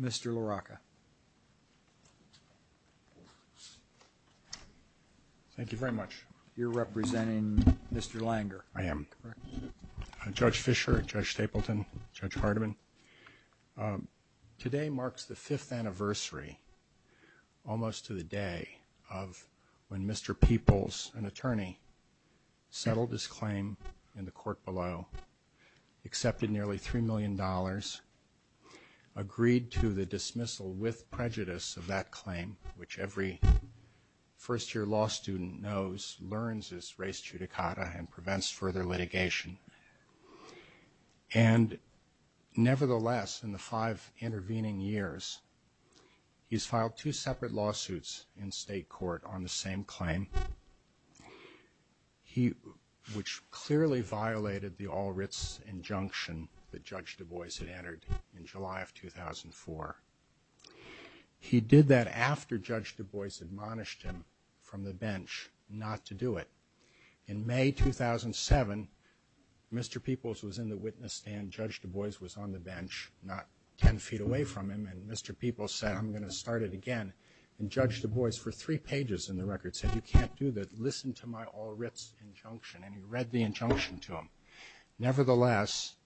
Mr. LaRocca, thank you very much. You're representing Mr. Langer? I am. Judge Fischer, Judge Stapleton, Judge Hardiman, today marks the 5th anniversary, almost to the day, of when Mr. Peoples, an attorney, settled his claim in the court below. accepted nearly $3 million, agreed to the dismissal with prejudice of that claim, which every first-year law student knows, learns is res judicata and prevents further litigation. And nevertheless, in the five intervening years, he's filed two separate lawsuits in state court on the same claim, which clearly violated the all-writs injunction that Judge Du Bois had entered in July of 2004. He did that after Judge Du Bois admonished him from the bench not to do it. In May 2007, Mr. Peoples was in the witness stand, Judge Du Bois was on the bench, not 10 feet away from him, and Mr. Peoples said, I'm going to start it again. And Judge Du Bois, for three pages in the record, said, you can't do that. Listen to my all-writs injunction. And he read the injunction to him. Nevertheless,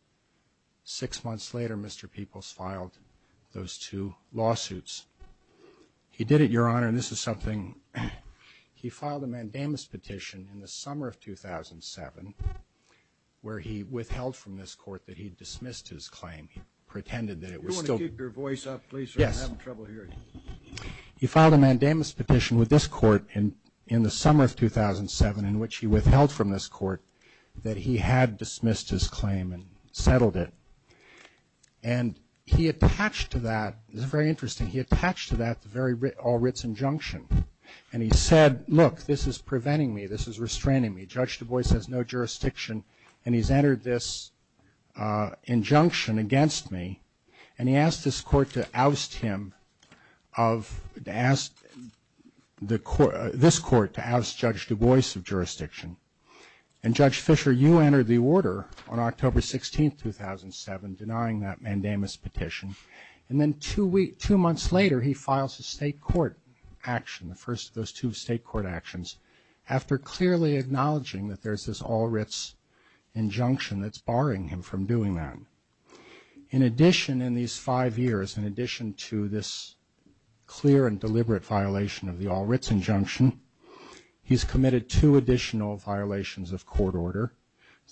six months later, Mr. Peoples filed those two lawsuits. He did it, Your Honor, and this is something. He filed a mandamus petition in the summer of 2007, where he withheld from this court that he dismissed his claim. He pretended that it was still You want to keep your voice up, please, or I'm having trouble hearing you. He filed a mandamus petition with this court in the summer of 2007, in which he withheld from this court that he had dismissed his claim and settled it. And he attached to that, this is very interesting, he attached to that the very all-writs injunction. And he said, look, this is preventing me, this is restraining me. Judge Du Bois has no jurisdiction, and he's entered this injunction against me. And he asked this court to oust him of, to ask this court to oust Judge Du Bois of jurisdiction. And Judge Fisher, you entered the order on October 16, 2007, denying that mandamus petition. And then two months later, he files a state court action, the first of those two state court actions, after clearly acknowledging that there's this all-writs injunction that's barring him from doing that. In addition, in these five years, in addition to this clear and deliberate violation of the all-writs injunction, he's committed two additional violations of court order.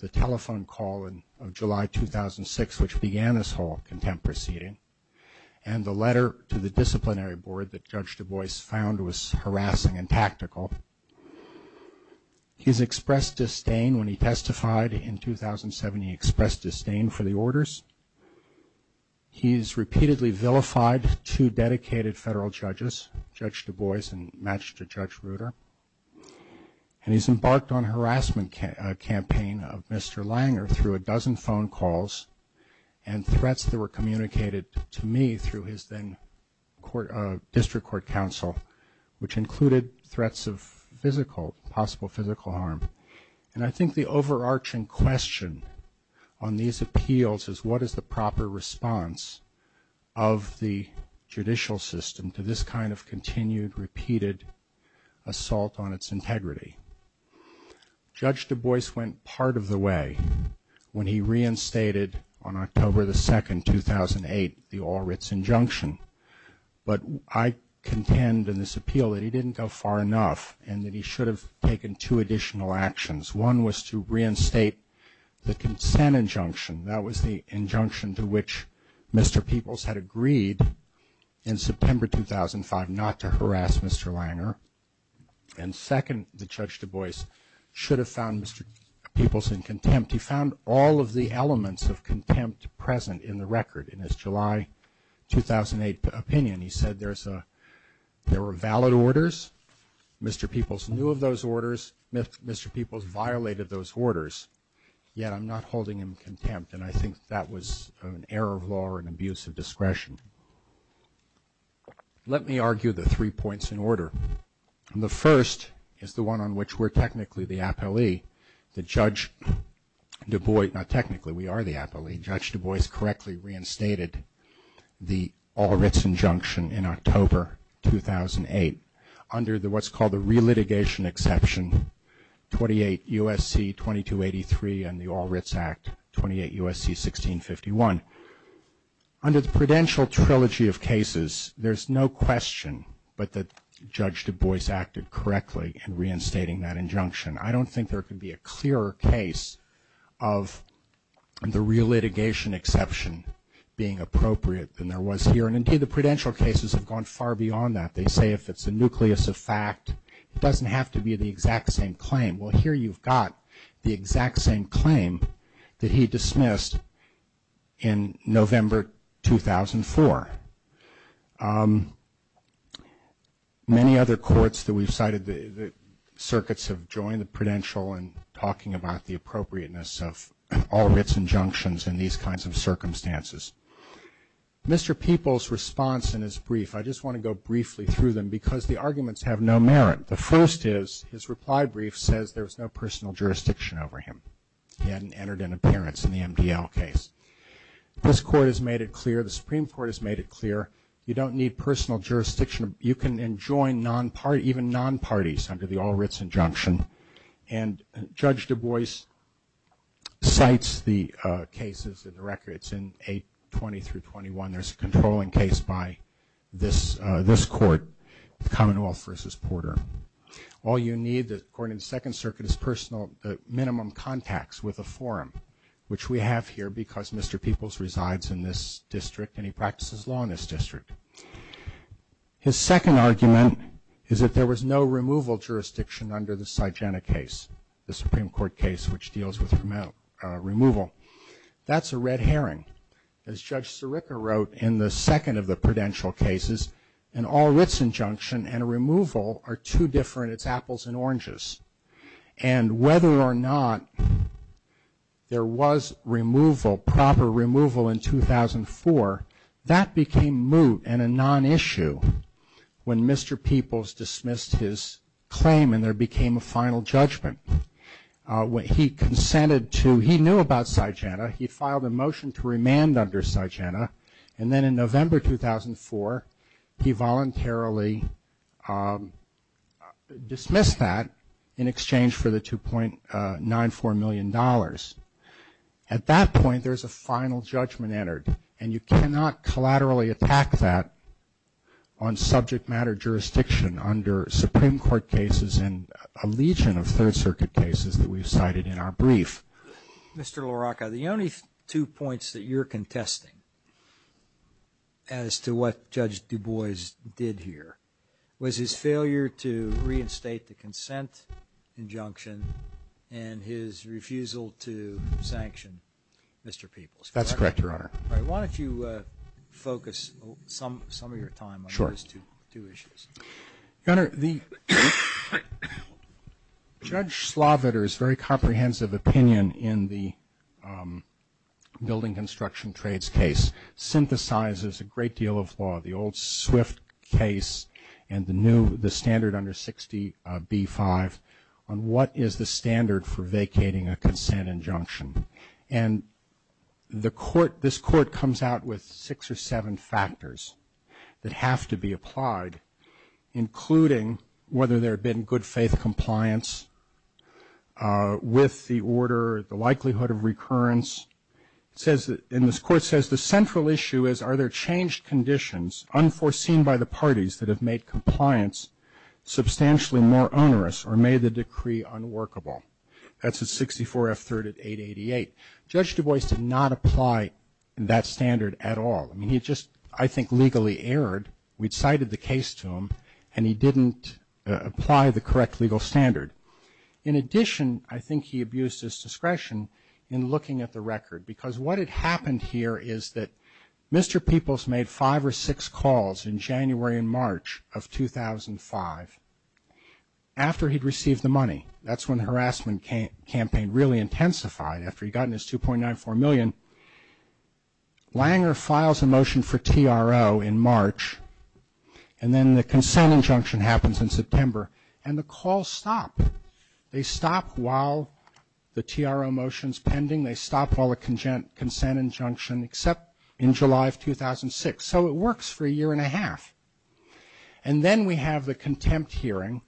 The telephone call of July 2006, which began this whole contempt proceeding, and the letter to the disciplinary board that Judge Du Bois found was harassing and tactical. He's expressed disdain when he testified in 2007, he expressed disdain for the orders. He's repeatedly vilified two dedicated federal judges, Judge Du Bois and Magistrate Judge Reuter. And he's embarked on a harassment campaign of Mr. Langer through a dozen phone calls and threats that were communicated to me through his then district court counsel, which included threats of physical, possible physical harm. And I think the overarching question on these appeals is, what is the proper response of the judicial system to this kind of continued, repeated assault on its integrity? Judge Du Bois went part of the way when he reinstated, on October the 2nd, 2008, the all-writs injunction. But I contend in this appeal that he didn't go far enough, and that he should have taken two additional actions. One was to reinstate the consent injunction, that was the injunction to which Mr. Peoples had agreed in September 2005 not to harass Mr. Langer. And second, Judge Du Bois should have found Mr. Peoples in contempt. He found all of the elements of contempt present in the record in his July 2008 opinion. He said there were valid orders, Mr. Peoples knew of those orders, Mr. Peoples violated those orders. Yet I'm not holding him in contempt, and I think that was an error of law or an abuse of discretion. Let me argue the three points in order. The first is the one on which we're technically the appellee, that Judge Du Bois, not technically, we are the appellee, Judge Du Bois correctly reinstated the all-writs injunction in October 2008 under what's called the re-litigation exception 28 U.S.C. 2283 and the All-Writs Act 28 U.S.C. 1651. Under the prudential trilogy of cases, there's no question but that Judge Du Bois acted correctly in reinstating that injunction. I don't think there can be a clearer case of the re-litigation exception being appropriate than there was here, and indeed the prudential cases have gone far beyond that. They say if it's a nucleus of fact, it doesn't have to be the exact same claim. Well, here you've got the exact same claim that he dismissed in November 2004. Many other courts that we've cited, the circuits have joined the prudential in talking about the appropriateness of all-writs injunctions in these kinds of circumstances. Mr. Peoples' response in his brief, I just want to go briefly through them because the arguments have no merit. The first is his reply brief says there was no personal jurisdiction over him. He hadn't entered an appearance in the MDL case. This court has made it clear, the Supreme Court has made it clear, you don't need personal jurisdiction. You can join even non-parties under the all-writs injunction, and Judge Du Bois cites the cases in the record. It's in 820 through 821. There's a controlling case by this court, the Commonwealth versus Porter. All you need, according to the Second Circuit, is personal minimum contacts with a forum, which we have here because Mr. Peoples resides in this district and he practices law in this district. His second argument is that there was no removal jurisdiction under the Sygena case, the Supreme Court case which deals with removal. That's a red herring. As Judge Sirica wrote in the second of the prudential cases, an all-writs injunction and a removal are two different, it's apples and oranges. And whether or not there was removal, proper removal in 2004, that became moot and a non-issue when Mr. Peoples dismissed his claim and there became a final judgment. He consented to, he knew about Sygena, he filed a motion to remand under Sygena, and then in November 2004, he voluntarily dismissed that in exchange for the $2.94 million. At that point, there's a final judgment entered, and you cannot collaterally attack that on subject matter jurisdiction under Supreme Court cases and a legion of third-circuit cases. The only two points that you're contesting as to what Judge Du Bois did here was his failure to reinstate the consent injunction and his refusal to sanction Mr. Peoples. That's correct, Your Honor. Why don't you focus some of your time on those two issues. Your Honor, the Judge Sloviter's very comprehensive opinion in the Building Construction Trades case synthesizes a great deal of law. The old Swift case and the new, the standard under 60B-5 on what is the standard for vacating a consent injunction. And the court, this court comes out with six or seven factors that have to be applied in order to make a decision. Including whether there had been good faith compliance with the order, the likelihood of recurrence. It says, and this court says, the central issue is are there changed conditions unforeseen by the parties that have made compliance substantially more onerous or made the decree unworkable. That's at 64F3rd at 888. Judge Du Bois did not apply that standard at all. I mean, he just, I think, legally erred. We cited the case to him and he didn't apply the correct legal standard. In addition, I think he abused his discretion in looking at the record. Because what had happened here is that Mr. Peoples made five or six calls in January and March of 2005. After he'd received the money. That's when the harassment campaign really intensified, after he'd gotten his 2.94 million. Langer files a motion for TRO in March, and then the consent injunction happens in September. And the calls stop. They stop all the consent injunction except in July of 2006. So it works for a year and a half. And then we have the contempt hearing,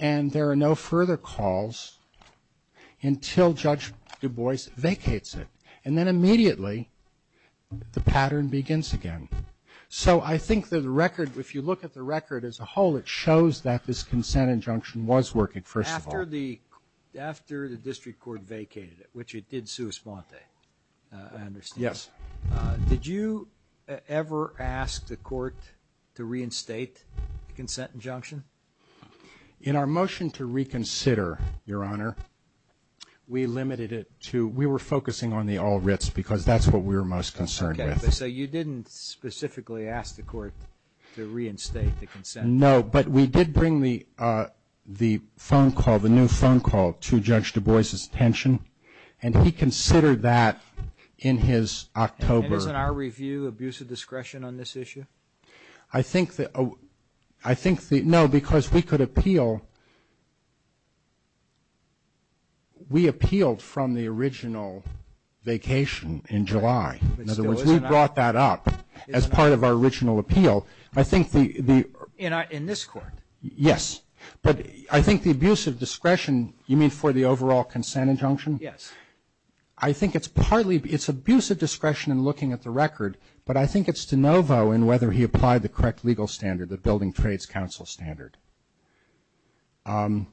and there are no further calls until Judge Du Bois vacates it. And then immediately the pattern begins again. So I think that the record, if you look at the record as a whole, it shows that this consent injunction was working, first of all. After the district court vacated it, which it did sua sponte, I understand. Yes. Did you ever ask the court to reinstate the consent injunction? In our motion to reconsider, Your Honor, we limited it to, we were focusing on the all writs because that's what we were most concerned with. So you didn't specifically ask the court to reinstate the consent injunction? No, but we did bring the phone call, the new phone call to Judge Du Bois' attention, and he considered that in his October. And isn't our review abuse of discretion on this issue? No, because we could appeal. We appealed from the original vacation in July. In other words, we brought that up as part of our original appeal. I think the ---- In this court? Yes. But I think the abuse of discretion, you mean for the overall consent injunction? Yes. I think it's partly, it's abuse of discretion in looking at the record, but I think it's de novo in whether he applied the correct legal standard, the Building Trades Council standard. And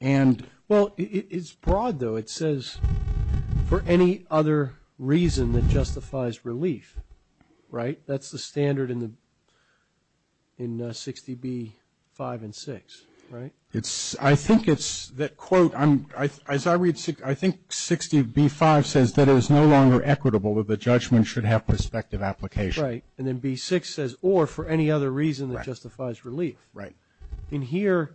---- Well, it's broad, though. It says, for any other reason that justifies relief, right? That's the standard in 60B-5 and 6, right? I think it's that quote, as I read, I think 60B-5 says that it is no longer equitable that the judgment should have prospective application. Right. And then B-6 says, or for any other reason that justifies relief. Right. In here,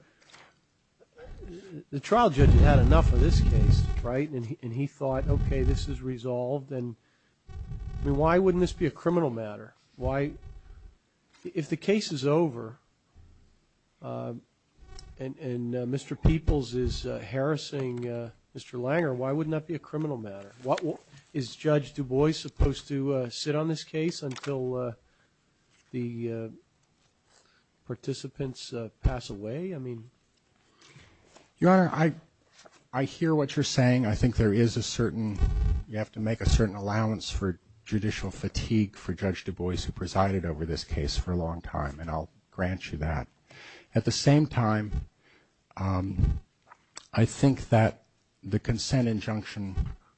the trial judge had had enough of this case, right? And he thought, okay, this is resolved. And why wouldn't this be a criminal matter? Why, if the case is over and Mr. Peoples is harassing Mr. Langer, why wouldn't that be a criminal matter? Is Judge Du Bois supposed to sit on this case until the participants pass away? I mean ---- Your Honor, I hear what you're saying. I think there is a certain, you have to make a certain allowance for judicial fatigue for Judge Du Bois, who presided over this case for a long time, and I'll grant you that. At the same time, I think that the consent injunction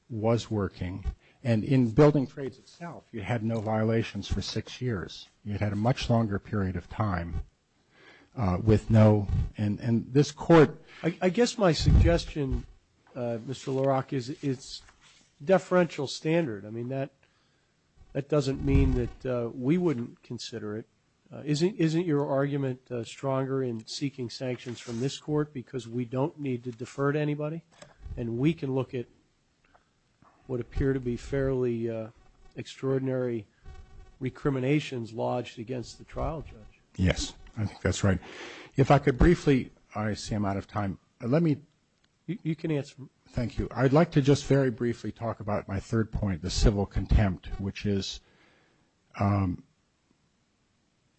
was working. And in building trades itself, you had no violations for six years. You had a much longer period of time with no ---- and this Court ---- I guess my suggestion, Mr. LaRock, is it's deferential standard. I mean, that doesn't mean that we wouldn't consider it. Isn't your argument stronger in seeking sanctions from this Court because we don't need to defer to anybody? And we can look at what appear to be fairly extraordinary recriminations lodged against the trial judge. Yes, I think that's right. If I could briefly ---- I see I'm out of time. Let me ---- You can answer. Thank you. I'd like to just very briefly talk about my third point, the civil contempt, which is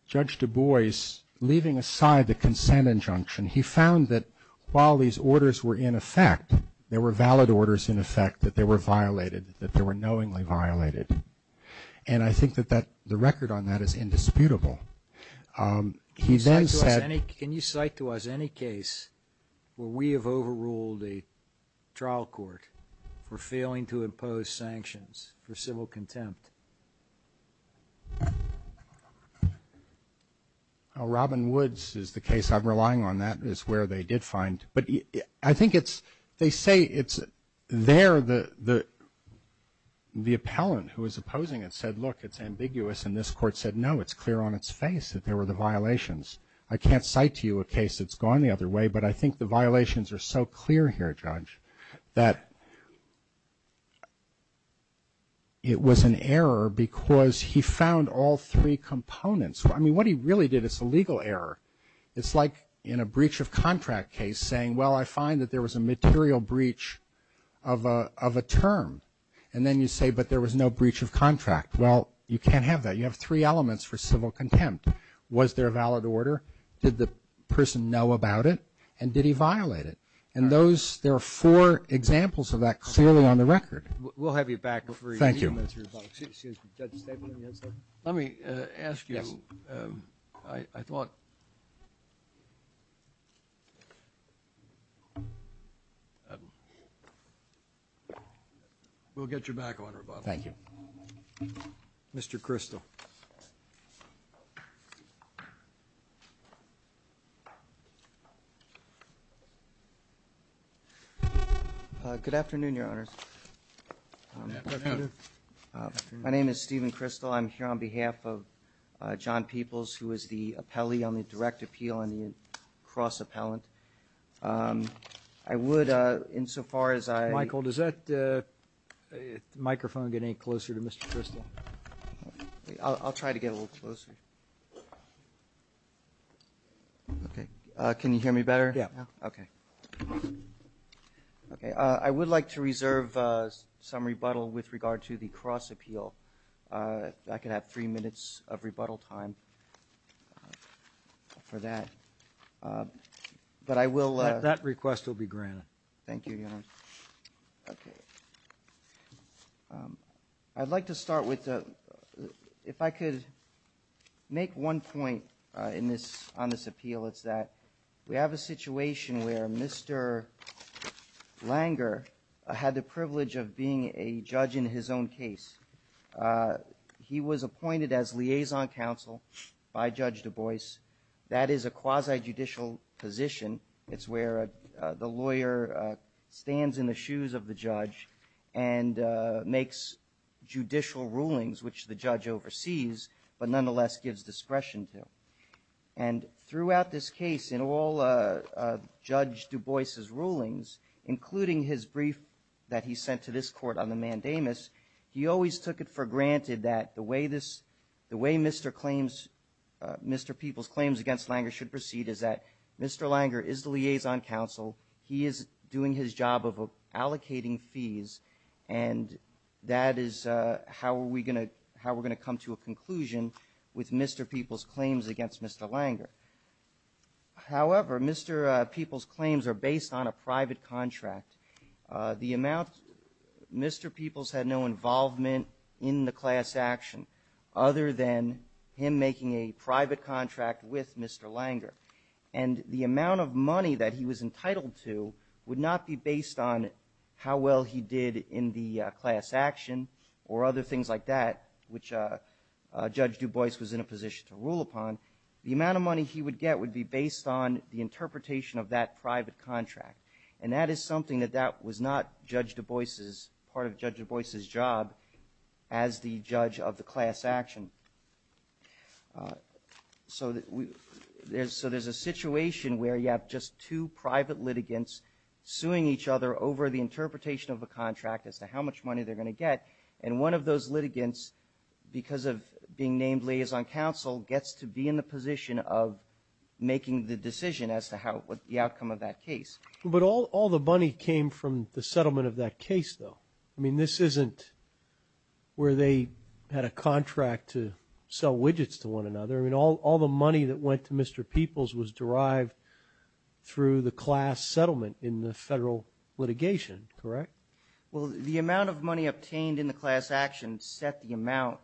Judge Du Bois, leaving aside the consent injunction, he found that while these orders were in effect, there were valid orders in effect, that they were violated, that they were knowingly violated. And I think that the record on that is indisputable. He then said ---- Can you cite to us any case where we have overruled a trial court for failing to impose sanctions for civil contempt? Robin Woods is the case I'm relying on. That is where they did find. But I think it's ---- they say it's there the appellant who is opposing it said, look, it's ambiguous. And this court said, no, it's clear on its face that there were the violations. I can't cite to you a case that's gone the other way, but I think the violations are so clear here, Judge, that it was an error because he found all three components. I mean, what he really did is a legal error. It's like in a breach of contract case saying, well, I find that there was a material breach of a term. And then you say, but there was no breach of contract. Well, you can't have that. You have three elements for civil contempt. Was there a valid order? Did the person know about it? And did he violate it? And those ---- there are four examples of that clearly on the record. We'll have you back before you ---- Thank you. Excuse me, Judge Stapleton, you had something? Let me ask you. Yes. I thought ---- We'll get you back on rebuttal. Thank you. Mr. Crystal. Good afternoon, Your Honors. My name is Stephen Crystal. I'm here on behalf of John Peoples, who is the appellee on the direct appeal and the cross-appellant. I would, insofar as I ---- Well, does that microphone get any closer to Mr. Crystal? I'll try to get a little closer. Okay. Can you hear me better? Yeah. Okay. I would like to reserve some rebuttal with regard to the cross-appeal. I could have three minutes of rebuttal time for that. But I will ---- That request will be granted. Thank you, Your Honors. Okay. I'd like to start with the ---- If I could make one point on this appeal, it's that we have a situation where Mr. Langer had the privilege of being a judge in his own case. He was appointed as liaison counsel by Judge Du Bois. That is a quasi-judicial position. It's where the lawyer stands in the shoes of the judge and makes judicial rulings, which the judge oversees but nonetheless gives discretion to. And throughout this case, in all of Judge Du Bois' rulings, including his brief that he sent to this Court on the mandamus, he always took it for granted that the way this ---- the way Mr. Peoples' claims against Langer should proceed is that Mr. Langer is the liaison counsel. He is doing his job of allocating fees, and that is how we're going to come to a conclusion with Mr. Peoples' claims against Mr. Langer. However, Mr. Peoples' claims are based on a private contract. The amount ---- Mr. Peoples had no involvement in the class action other than him making a private contract with Mr. Langer. And the amount of money that he was entitled to would not be based on how well he did in the class action or other things like that, which Judge Du Bois was in a position to rule upon. The amount of money he would get would be based on the interpretation of that private contract, and that is something that that was not Judge Du Bois' ---- part of Judge Du Bois' job as the judge of the class action. So there's a situation where you have just two private litigants suing each other over the interpretation of a contract as to how much money they're going to get, and one of those litigants, because of being named liaison counsel, gets to be in the position of making the decision as to the outcome of that case. But all the money came from the settlement of that case, though. I mean, this isn't where they had a contract to sell widgets to one another. I mean, all the money that went to Mr. Peoples was derived through the class settlement in the federal litigation, correct? Well, the amount of money obtained in the class action set the amount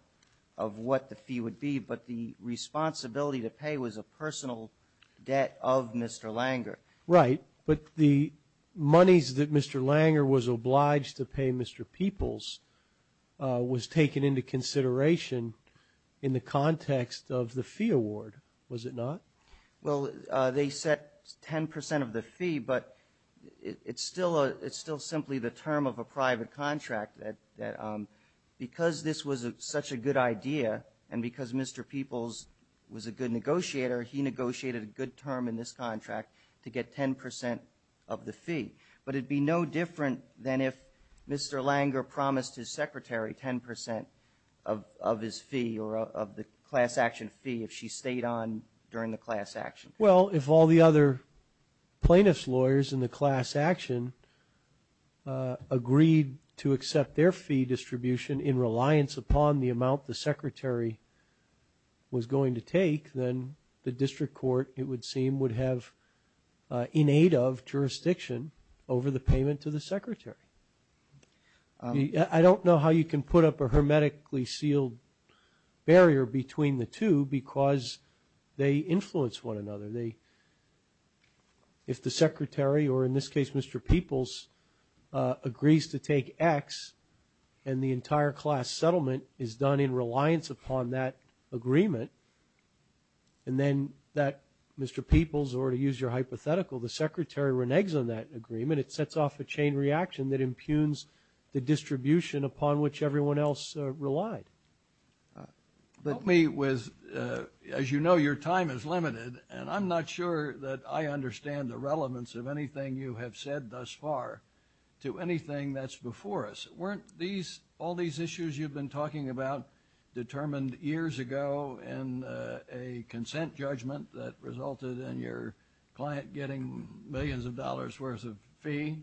of what the fee would be, but the responsibility to pay was a personal debt of Mr. Langer. Right. But the monies that Mr. Langer was obliged to pay Mr. Peoples was taken into consideration in the context of the fee award, was it not? Well, they set 10 percent of the fee, but it's still simply the term of a private contract that because this was such a good idea and because Mr. Peoples was a good to get 10 percent of the fee. But it would be no different than if Mr. Langer promised his secretary 10 percent of his fee or of the class action fee if she stayed on during the class action. Well, if all the other plaintiffs' lawyers in the class action agreed to accept their fee distribution in reliance upon the amount the secretary was going to take, then the district court, it would seem, would have in aid of jurisdiction over the payment to the secretary. I don't know how you can put up a hermetically sealed barrier between the two because they influence one another. If the secretary, or in this case Mr. Peoples, agrees to take X and the entire class settlement is done in reliance upon that agreement, and then that Mr. Peoples, or to use your hypothetical, the secretary reneges on that agreement, it sets off a chain reaction that impugns the distribution upon which everyone else relied. Help me with, as you know, your time is limited, and I'm not sure that I understand the relevance of anything you have said thus far to anything that's before us. Weren't all these issues you've been talking about determined years ago in a consent judgment that resulted in your client getting millions of dollars worth of fee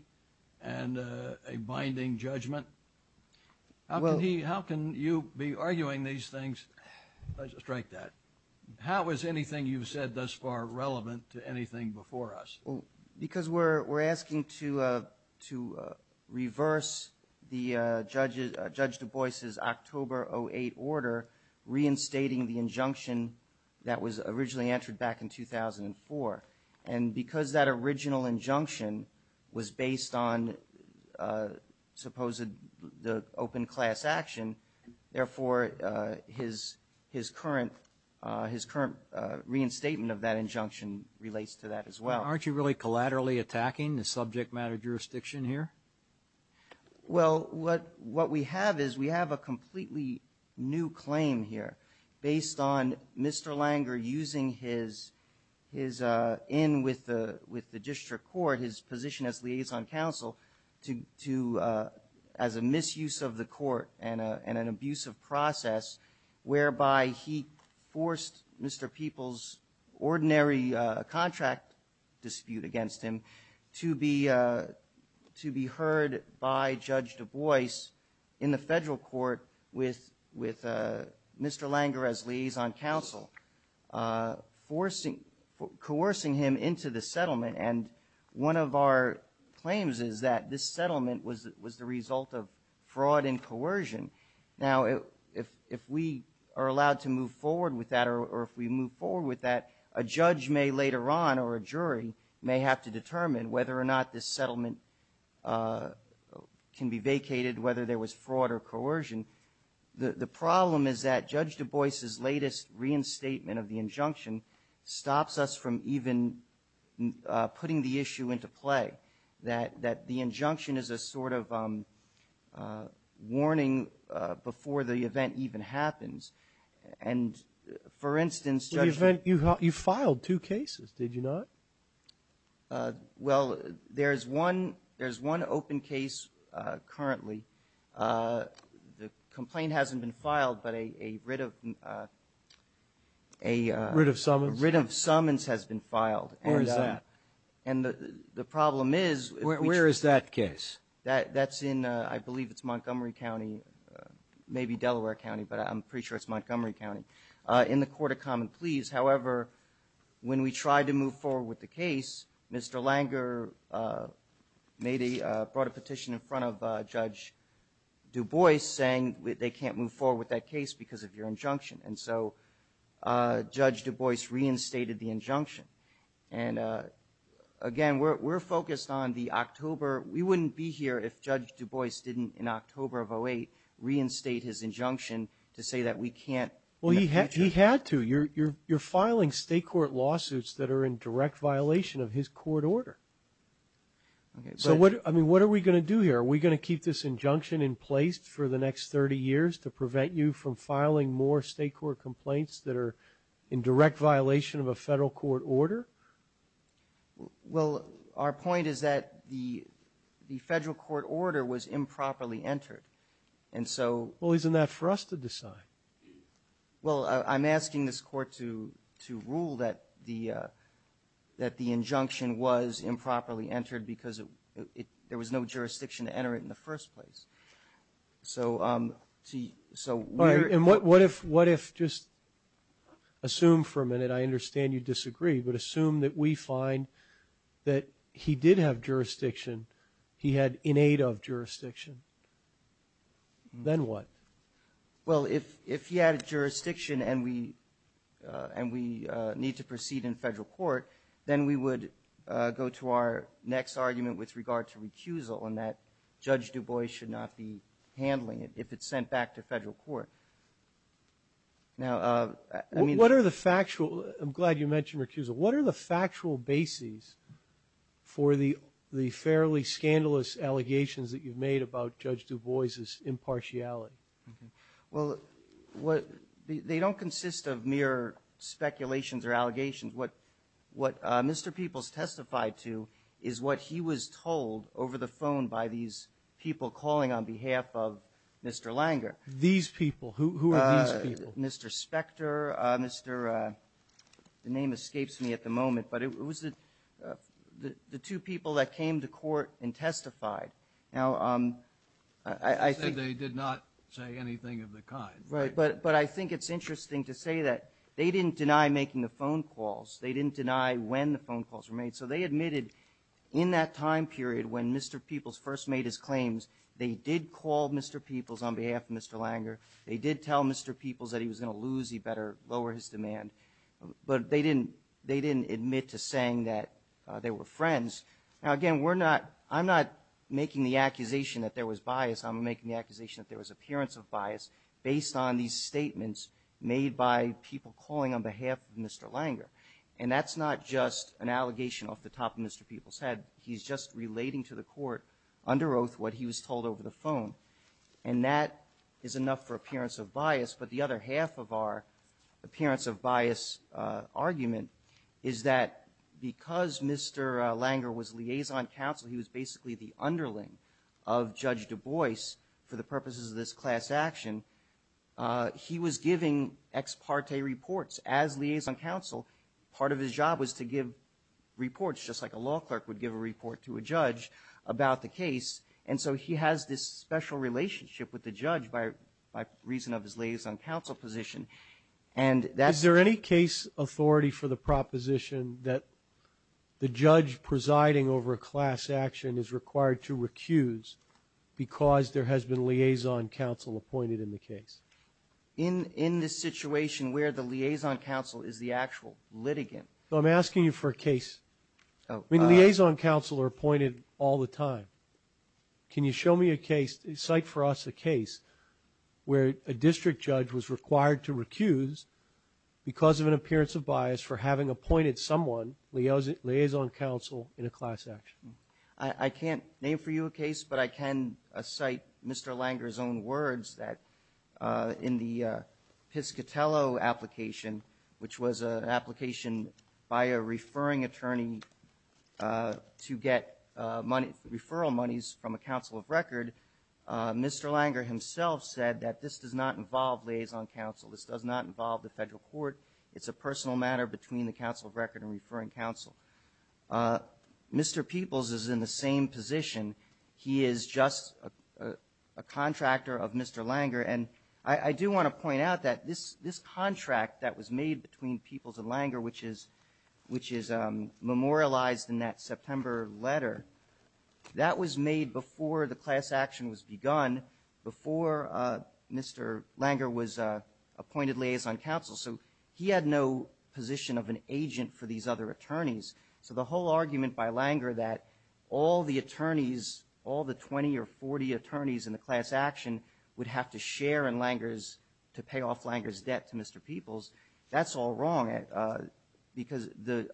and a binding judgment? How can you be arguing these things? Strike that. How is anything you've said thus far relevant to anything before us? Because we're asking to reverse Judge Du Bois' October 08 order reinstating the injunction that was originally entered back in 2004, and because that original injunction was based on supposed open class action, therefore his current reinstatement of that injunction relates to that as well. Aren't you really collaterally attacking the subject matter jurisdiction here? Well, what we have is we have a completely new claim here based on Mr. Langer using his in with the district court, his position as liaison counsel, to as a misuse of the court and an abusive process whereby he forced Mr. Peoples' ordinary contract dispute against him to be heard by Judge Du Bois in the federal court with Mr. Langer as liaison counsel, coercing him into the settlement, and one of our claims is that this settlement was the result of fraud and coercion. Now, if we are allowed to move forward with that or if we move forward with that, a judge later on or a jury may have to determine whether or not this settlement can be vacated, whether there was fraud or coercion. The problem is that Judge Du Bois' latest reinstatement of the injunction stops us from even putting the issue into play, that the injunction is a sort of warning before the event even happens. And, for instance, Judge ---- You filed two cases, did you not? Well, there is one open case currently. The complaint hasn't been filed, but a writ of ---- A writ of summons? A writ of summons has been filed. Where is that? And the problem is ---- Where is that case? That's in, I believe, it's Montgomery County, maybe Delaware County, but I'm pretty sure it's Montgomery County, in the Court of Common Pleas. However, when we tried to move forward with the case, Mr. Langer made a, brought a petition in front of Judge Du Bois saying that they can't move forward with that case because of your injunction. And so Judge Du Bois reinstated the injunction. And, again, we're focused on the October ---- We wouldn't be here if Judge Du Bois didn't, in October of 2008, reinstate his injunction. Well, he had to. You're filing state court lawsuits that are in direct violation of his court order. So, I mean, what are we going to do here? Are we going to keep this injunction in place for the next 30 years to prevent you from filing more state court complaints that are in direct violation of a federal court order? Well, our point is that the federal court order was improperly entered. And so ---- Isn't that for us to decide? Well, I'm asking this Court to rule that the injunction was improperly entered because there was no jurisdiction to enter it in the first place. So we're ---- All right. And what if, just assume for a minute, I understand you disagree, but assume that we find that he did have jurisdiction, he had in aid of jurisdiction. Then what? Well, if he had jurisdiction and we need to proceed in federal court, then we would go to our next argument with regard to recusal and that Judge Du Bois should not be handling it if it's sent back to federal court. Now, I mean ---- What are the factual ---- I'm glad you mentioned recusal. What are the factual bases for the fairly scandalous allegations that you've made about Judge Du Bois' impartiality? Well, what ---- they don't consist of mere speculations or allegations. What Mr. Peoples testified to is what he was told over the phone by these people calling on behalf of Mr. Langer. These people? Who are these people? Mr. Specter, Mr. ---- the name escapes me at the moment, but it was the two people that came to court and testified. Now, I think ---- You said they did not say anything of the kind. Right. But I think it's interesting to say that they didn't deny making the phone calls. They didn't deny when the phone calls were made. So they admitted in that time period when Mr. Peoples on behalf of Mr. Langer, they did tell Mr. Peoples that he was going to lose, he better lower his demand. But they didn't admit to saying that they were friends. Now, again, we're not ---- I'm not making the accusation that there was bias. I'm making the accusation that there was appearance of bias based on these statements made by people calling on behalf of Mr. Langer. And that's not just an allegation off the top of Mr. Peoples' head. He's just relating to the court under oath what he was told over the phone. And that is enough for appearance of bias. But the other half of our appearance of bias argument is that because Mr. Langer was liaison counsel, he was basically the underling of Judge Du Bois for the purposes of this class action. He was giving ex parte reports. As liaison counsel, part of his job was to give a report to a judge about the case. And so he has this special relationship with the judge by reason of his liaison counsel position. And that's ---- Sotomayor Is there any case authority for the proposition that the judge presiding over a class action is required to recuse because there has been liaison counsel appointed in the case? In this situation where the liaison counsel is the actual litigant? I'm asking you for a case. I mean, liaison counsel are appointed all the time. Can you show me a case? Cite for us a case where a district judge was required to recuse because of an appearance of bias for having appointed someone, liaison counsel, in a class action. I can't name for you a case, but I can cite Mr. Langer's own words that the in the Piscitello application, which was an application by a referring attorney to get money, referral monies from a counsel of record, Mr. Langer himself said that this does not involve liaison counsel. This does not involve the federal court. It's a personal matter between the counsel of record and referring counsel. Mr. Peoples is in the same position. He is just a contractor of Mr. Langer. And I do want to point out that this contract that was made between Peoples and Langer, which is memorialized in that September letter, that was made before the class action was begun, before Mr. Langer was appointed liaison counsel. So he had no position of an agent for these other attorneys. So the whole argument by Langer that all the attorneys, all the 20 or 40 attorneys in the class action would have to share in Langer's, to pay off Langer's debt to Mr. Peoples, that's all wrong, because the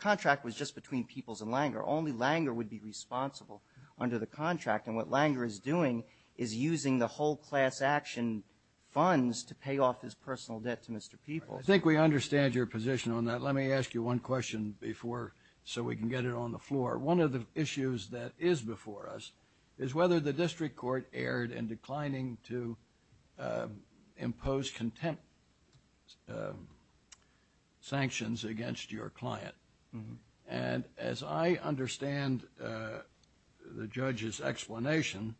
contract was just between Peoples and Langer. Only Langer would be responsible under the contract. And what Langer is doing is using the whole class action funds to pay off his personal debt to Mr. Peoples. I think we understand your position on that. Let me ask you one question before, so we can get it on the floor. One of the issues that is before us is whether the district court erred in declining to impose contempt sanctions against your client. And as I understand the judge's explanation,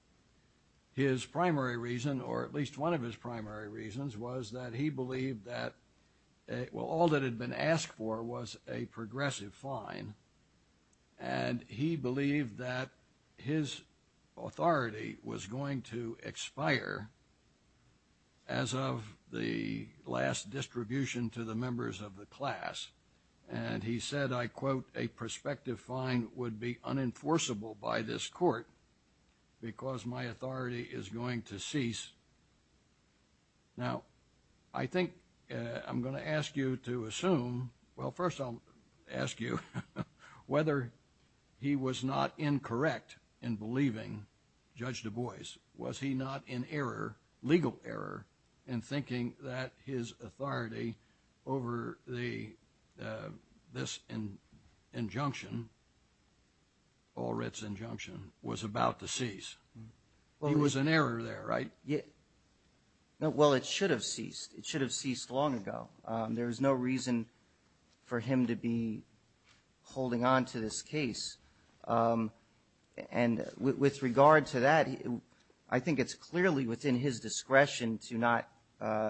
his primary reason, or at least one of his primary reasons, was that he believed that, well, all that had been asked for was a progressive fine. And he believed that his authority was going to expire as of the last distribution to the members of the class. And he said, I quote, a prospective fine would be unenforceable by this court because my authority is going to cease. Now, I think I'm going to ask you to assume, well, first I'll ask you whether he was not incorrect in believing Judge Du Bois. Was he not in error, legal error, in thinking that his authority over this injunction, Allred's injunction, was about to cease? He was in error there, right? Well, it should have ceased. It should have ceased long ago. There is no reason for him to be holding on to this case. And with regard to that, I think it's clearly within his discretion to not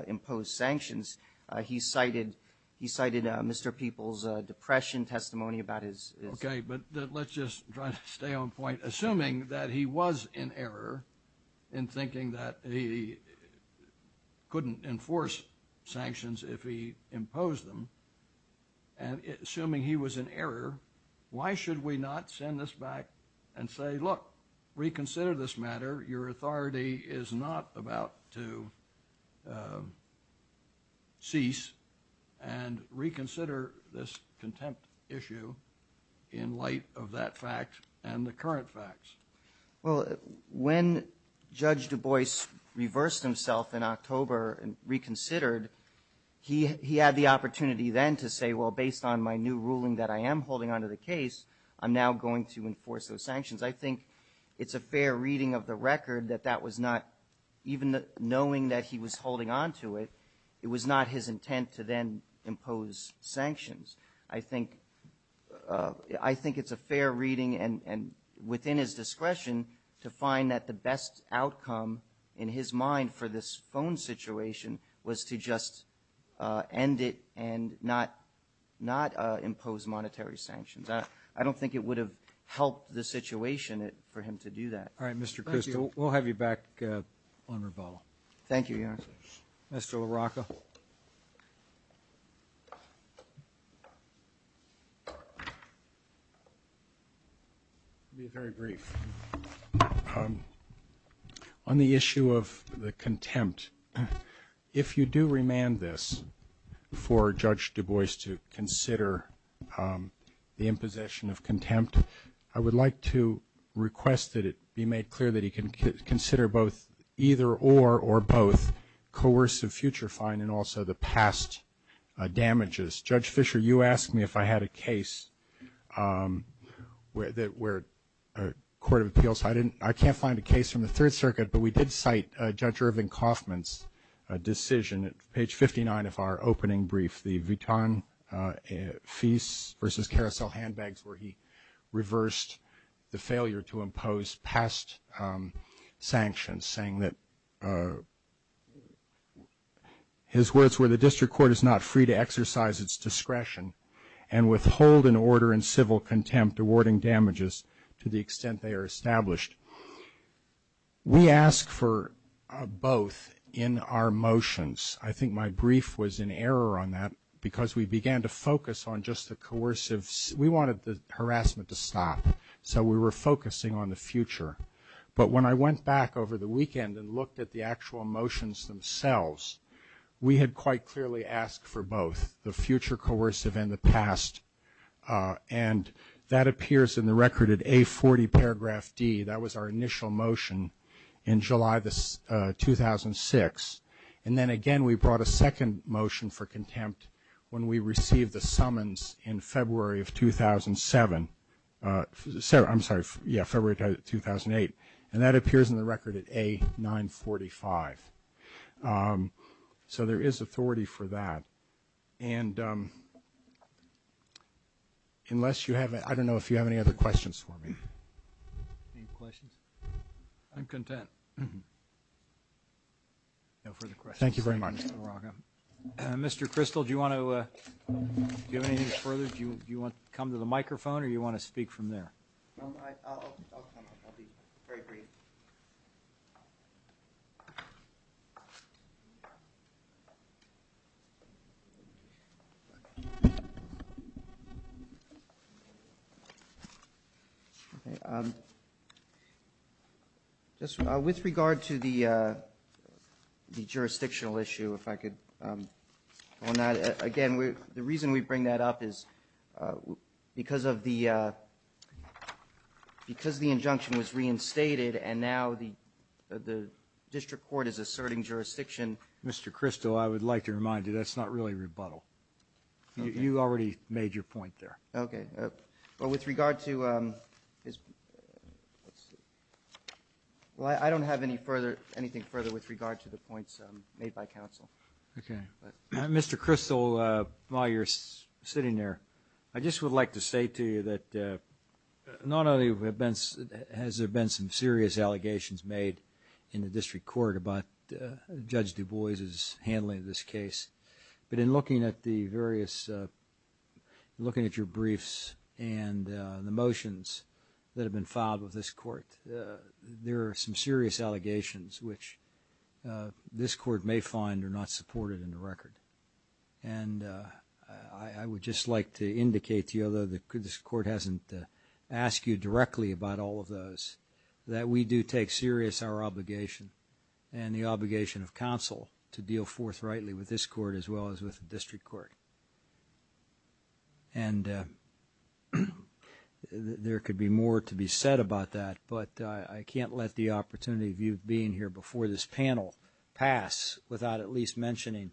impose sanctions. He cited Mr. Peoples' depression testimony about his... Okay, but let's just try to stay on point. Assuming that he was in error in thinking that he couldn't enforce sanctions if he imposed them, and assuming he was in error, why should we not send this back and say, look, reconsider this matter. Your authority is not about to cease and reconsider this contempt issue in light of that fact and the current facts. Well, when Judge Du Bois reversed himself in October and reconsidered, he had the opportunity then to say, well, based on my new ruling that I am holding on to the case, I'm now going to enforce those sanctions. I think it's a fair reading of the record that that was not, even knowing that he was holding on to it, it was not his intent to then impose sanctions. I think it's a fair reading and within his discretion to find that the best outcome in his mind for this phone situation was to just end it and not impose monetary sanctions. I don't think it would have helped the situation for him to do that. All right, Mr. Crystal, we'll have you back on rebuttal. Thank you, Your Honor. On the issue of the contempt, if you do remand this for Judge Du Bois to consider the imposition of contempt, I would like to request that it be made clear that he can consider both either or or both coercive future fine and also the past damages. Judge Fisher, you asked me if I had a case where a court of appeals, I can't find a case from the Third Circuit, but we did cite Judge Irving Kaufman's decision at page 59 of our opening brief, the Vuitton Fees v. Carousel handbags where he reversed the failure to impose past sanctions, saying that his words were, the district court is not free to exercise its discretion and withhold an order in civil contempt awarding damages to the extent they are established. We ask for both in our motions. I think my brief was in error on that because we began to focus on just the coercive. We wanted the harassment to stop, so we were focusing on the future. But when I went back over the weekend and looked at the actual motions themselves, we had quite clearly asked for both the future coercive and the past. And that appears in the record at A40 paragraph D. That was our initial motion in July 2006. And then again we brought a second motion for contempt when we received the summons in February of 2007, I'm sorry, February 2008. And that appears in the record at A945. So there is authority for that. And unless you have, I don't know if you have any other questions for me. Any questions? I'm content. No further questions. Thank you very much. Mr. Crystal, do you have anything further? Do you want to come to the microphone or do you want to speak from there? Okay. With regard to the jurisdictional issue, if I could go on that. Again, the reason we bring that up is because the injunction was reinstated and now the district court is asserting jurisdiction. Mr. Crystal, I would like to remind you that's not really rebuttal. You already made your point there. I don't have anything further with regard to the points made by counsel. Mr. Crystal, while you're sitting there, I just would like to say to you that not only has there been some serious allegations made in the district court about Judge Du Bois' handling of this case, but in looking at the various, looking at your briefs and the motions that have been filed with this court, there are some serious allegations which this court may find are not supported in the record. And I would just like to indicate to you, although this court hasn't asked you directly about all of those, that we do take serious our obligation and the obligation of counsel to deal forthrightly with this court as well as with the district court. And there could be more to be said about that, but I can't let the opportunity of you being here before this panel pass without at least mentioning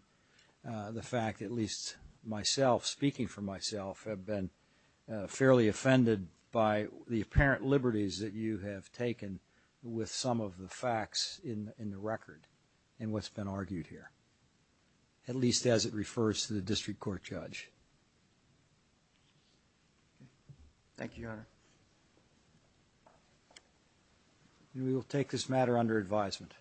the fact, at least myself, speaking for myself, have been fairly offended by the apparent liberties that you have taken with some of the facts in the record and what's been argued here, at least as it refers to the district court judge. Thank you, Your Honor. We will take this matter under advisement.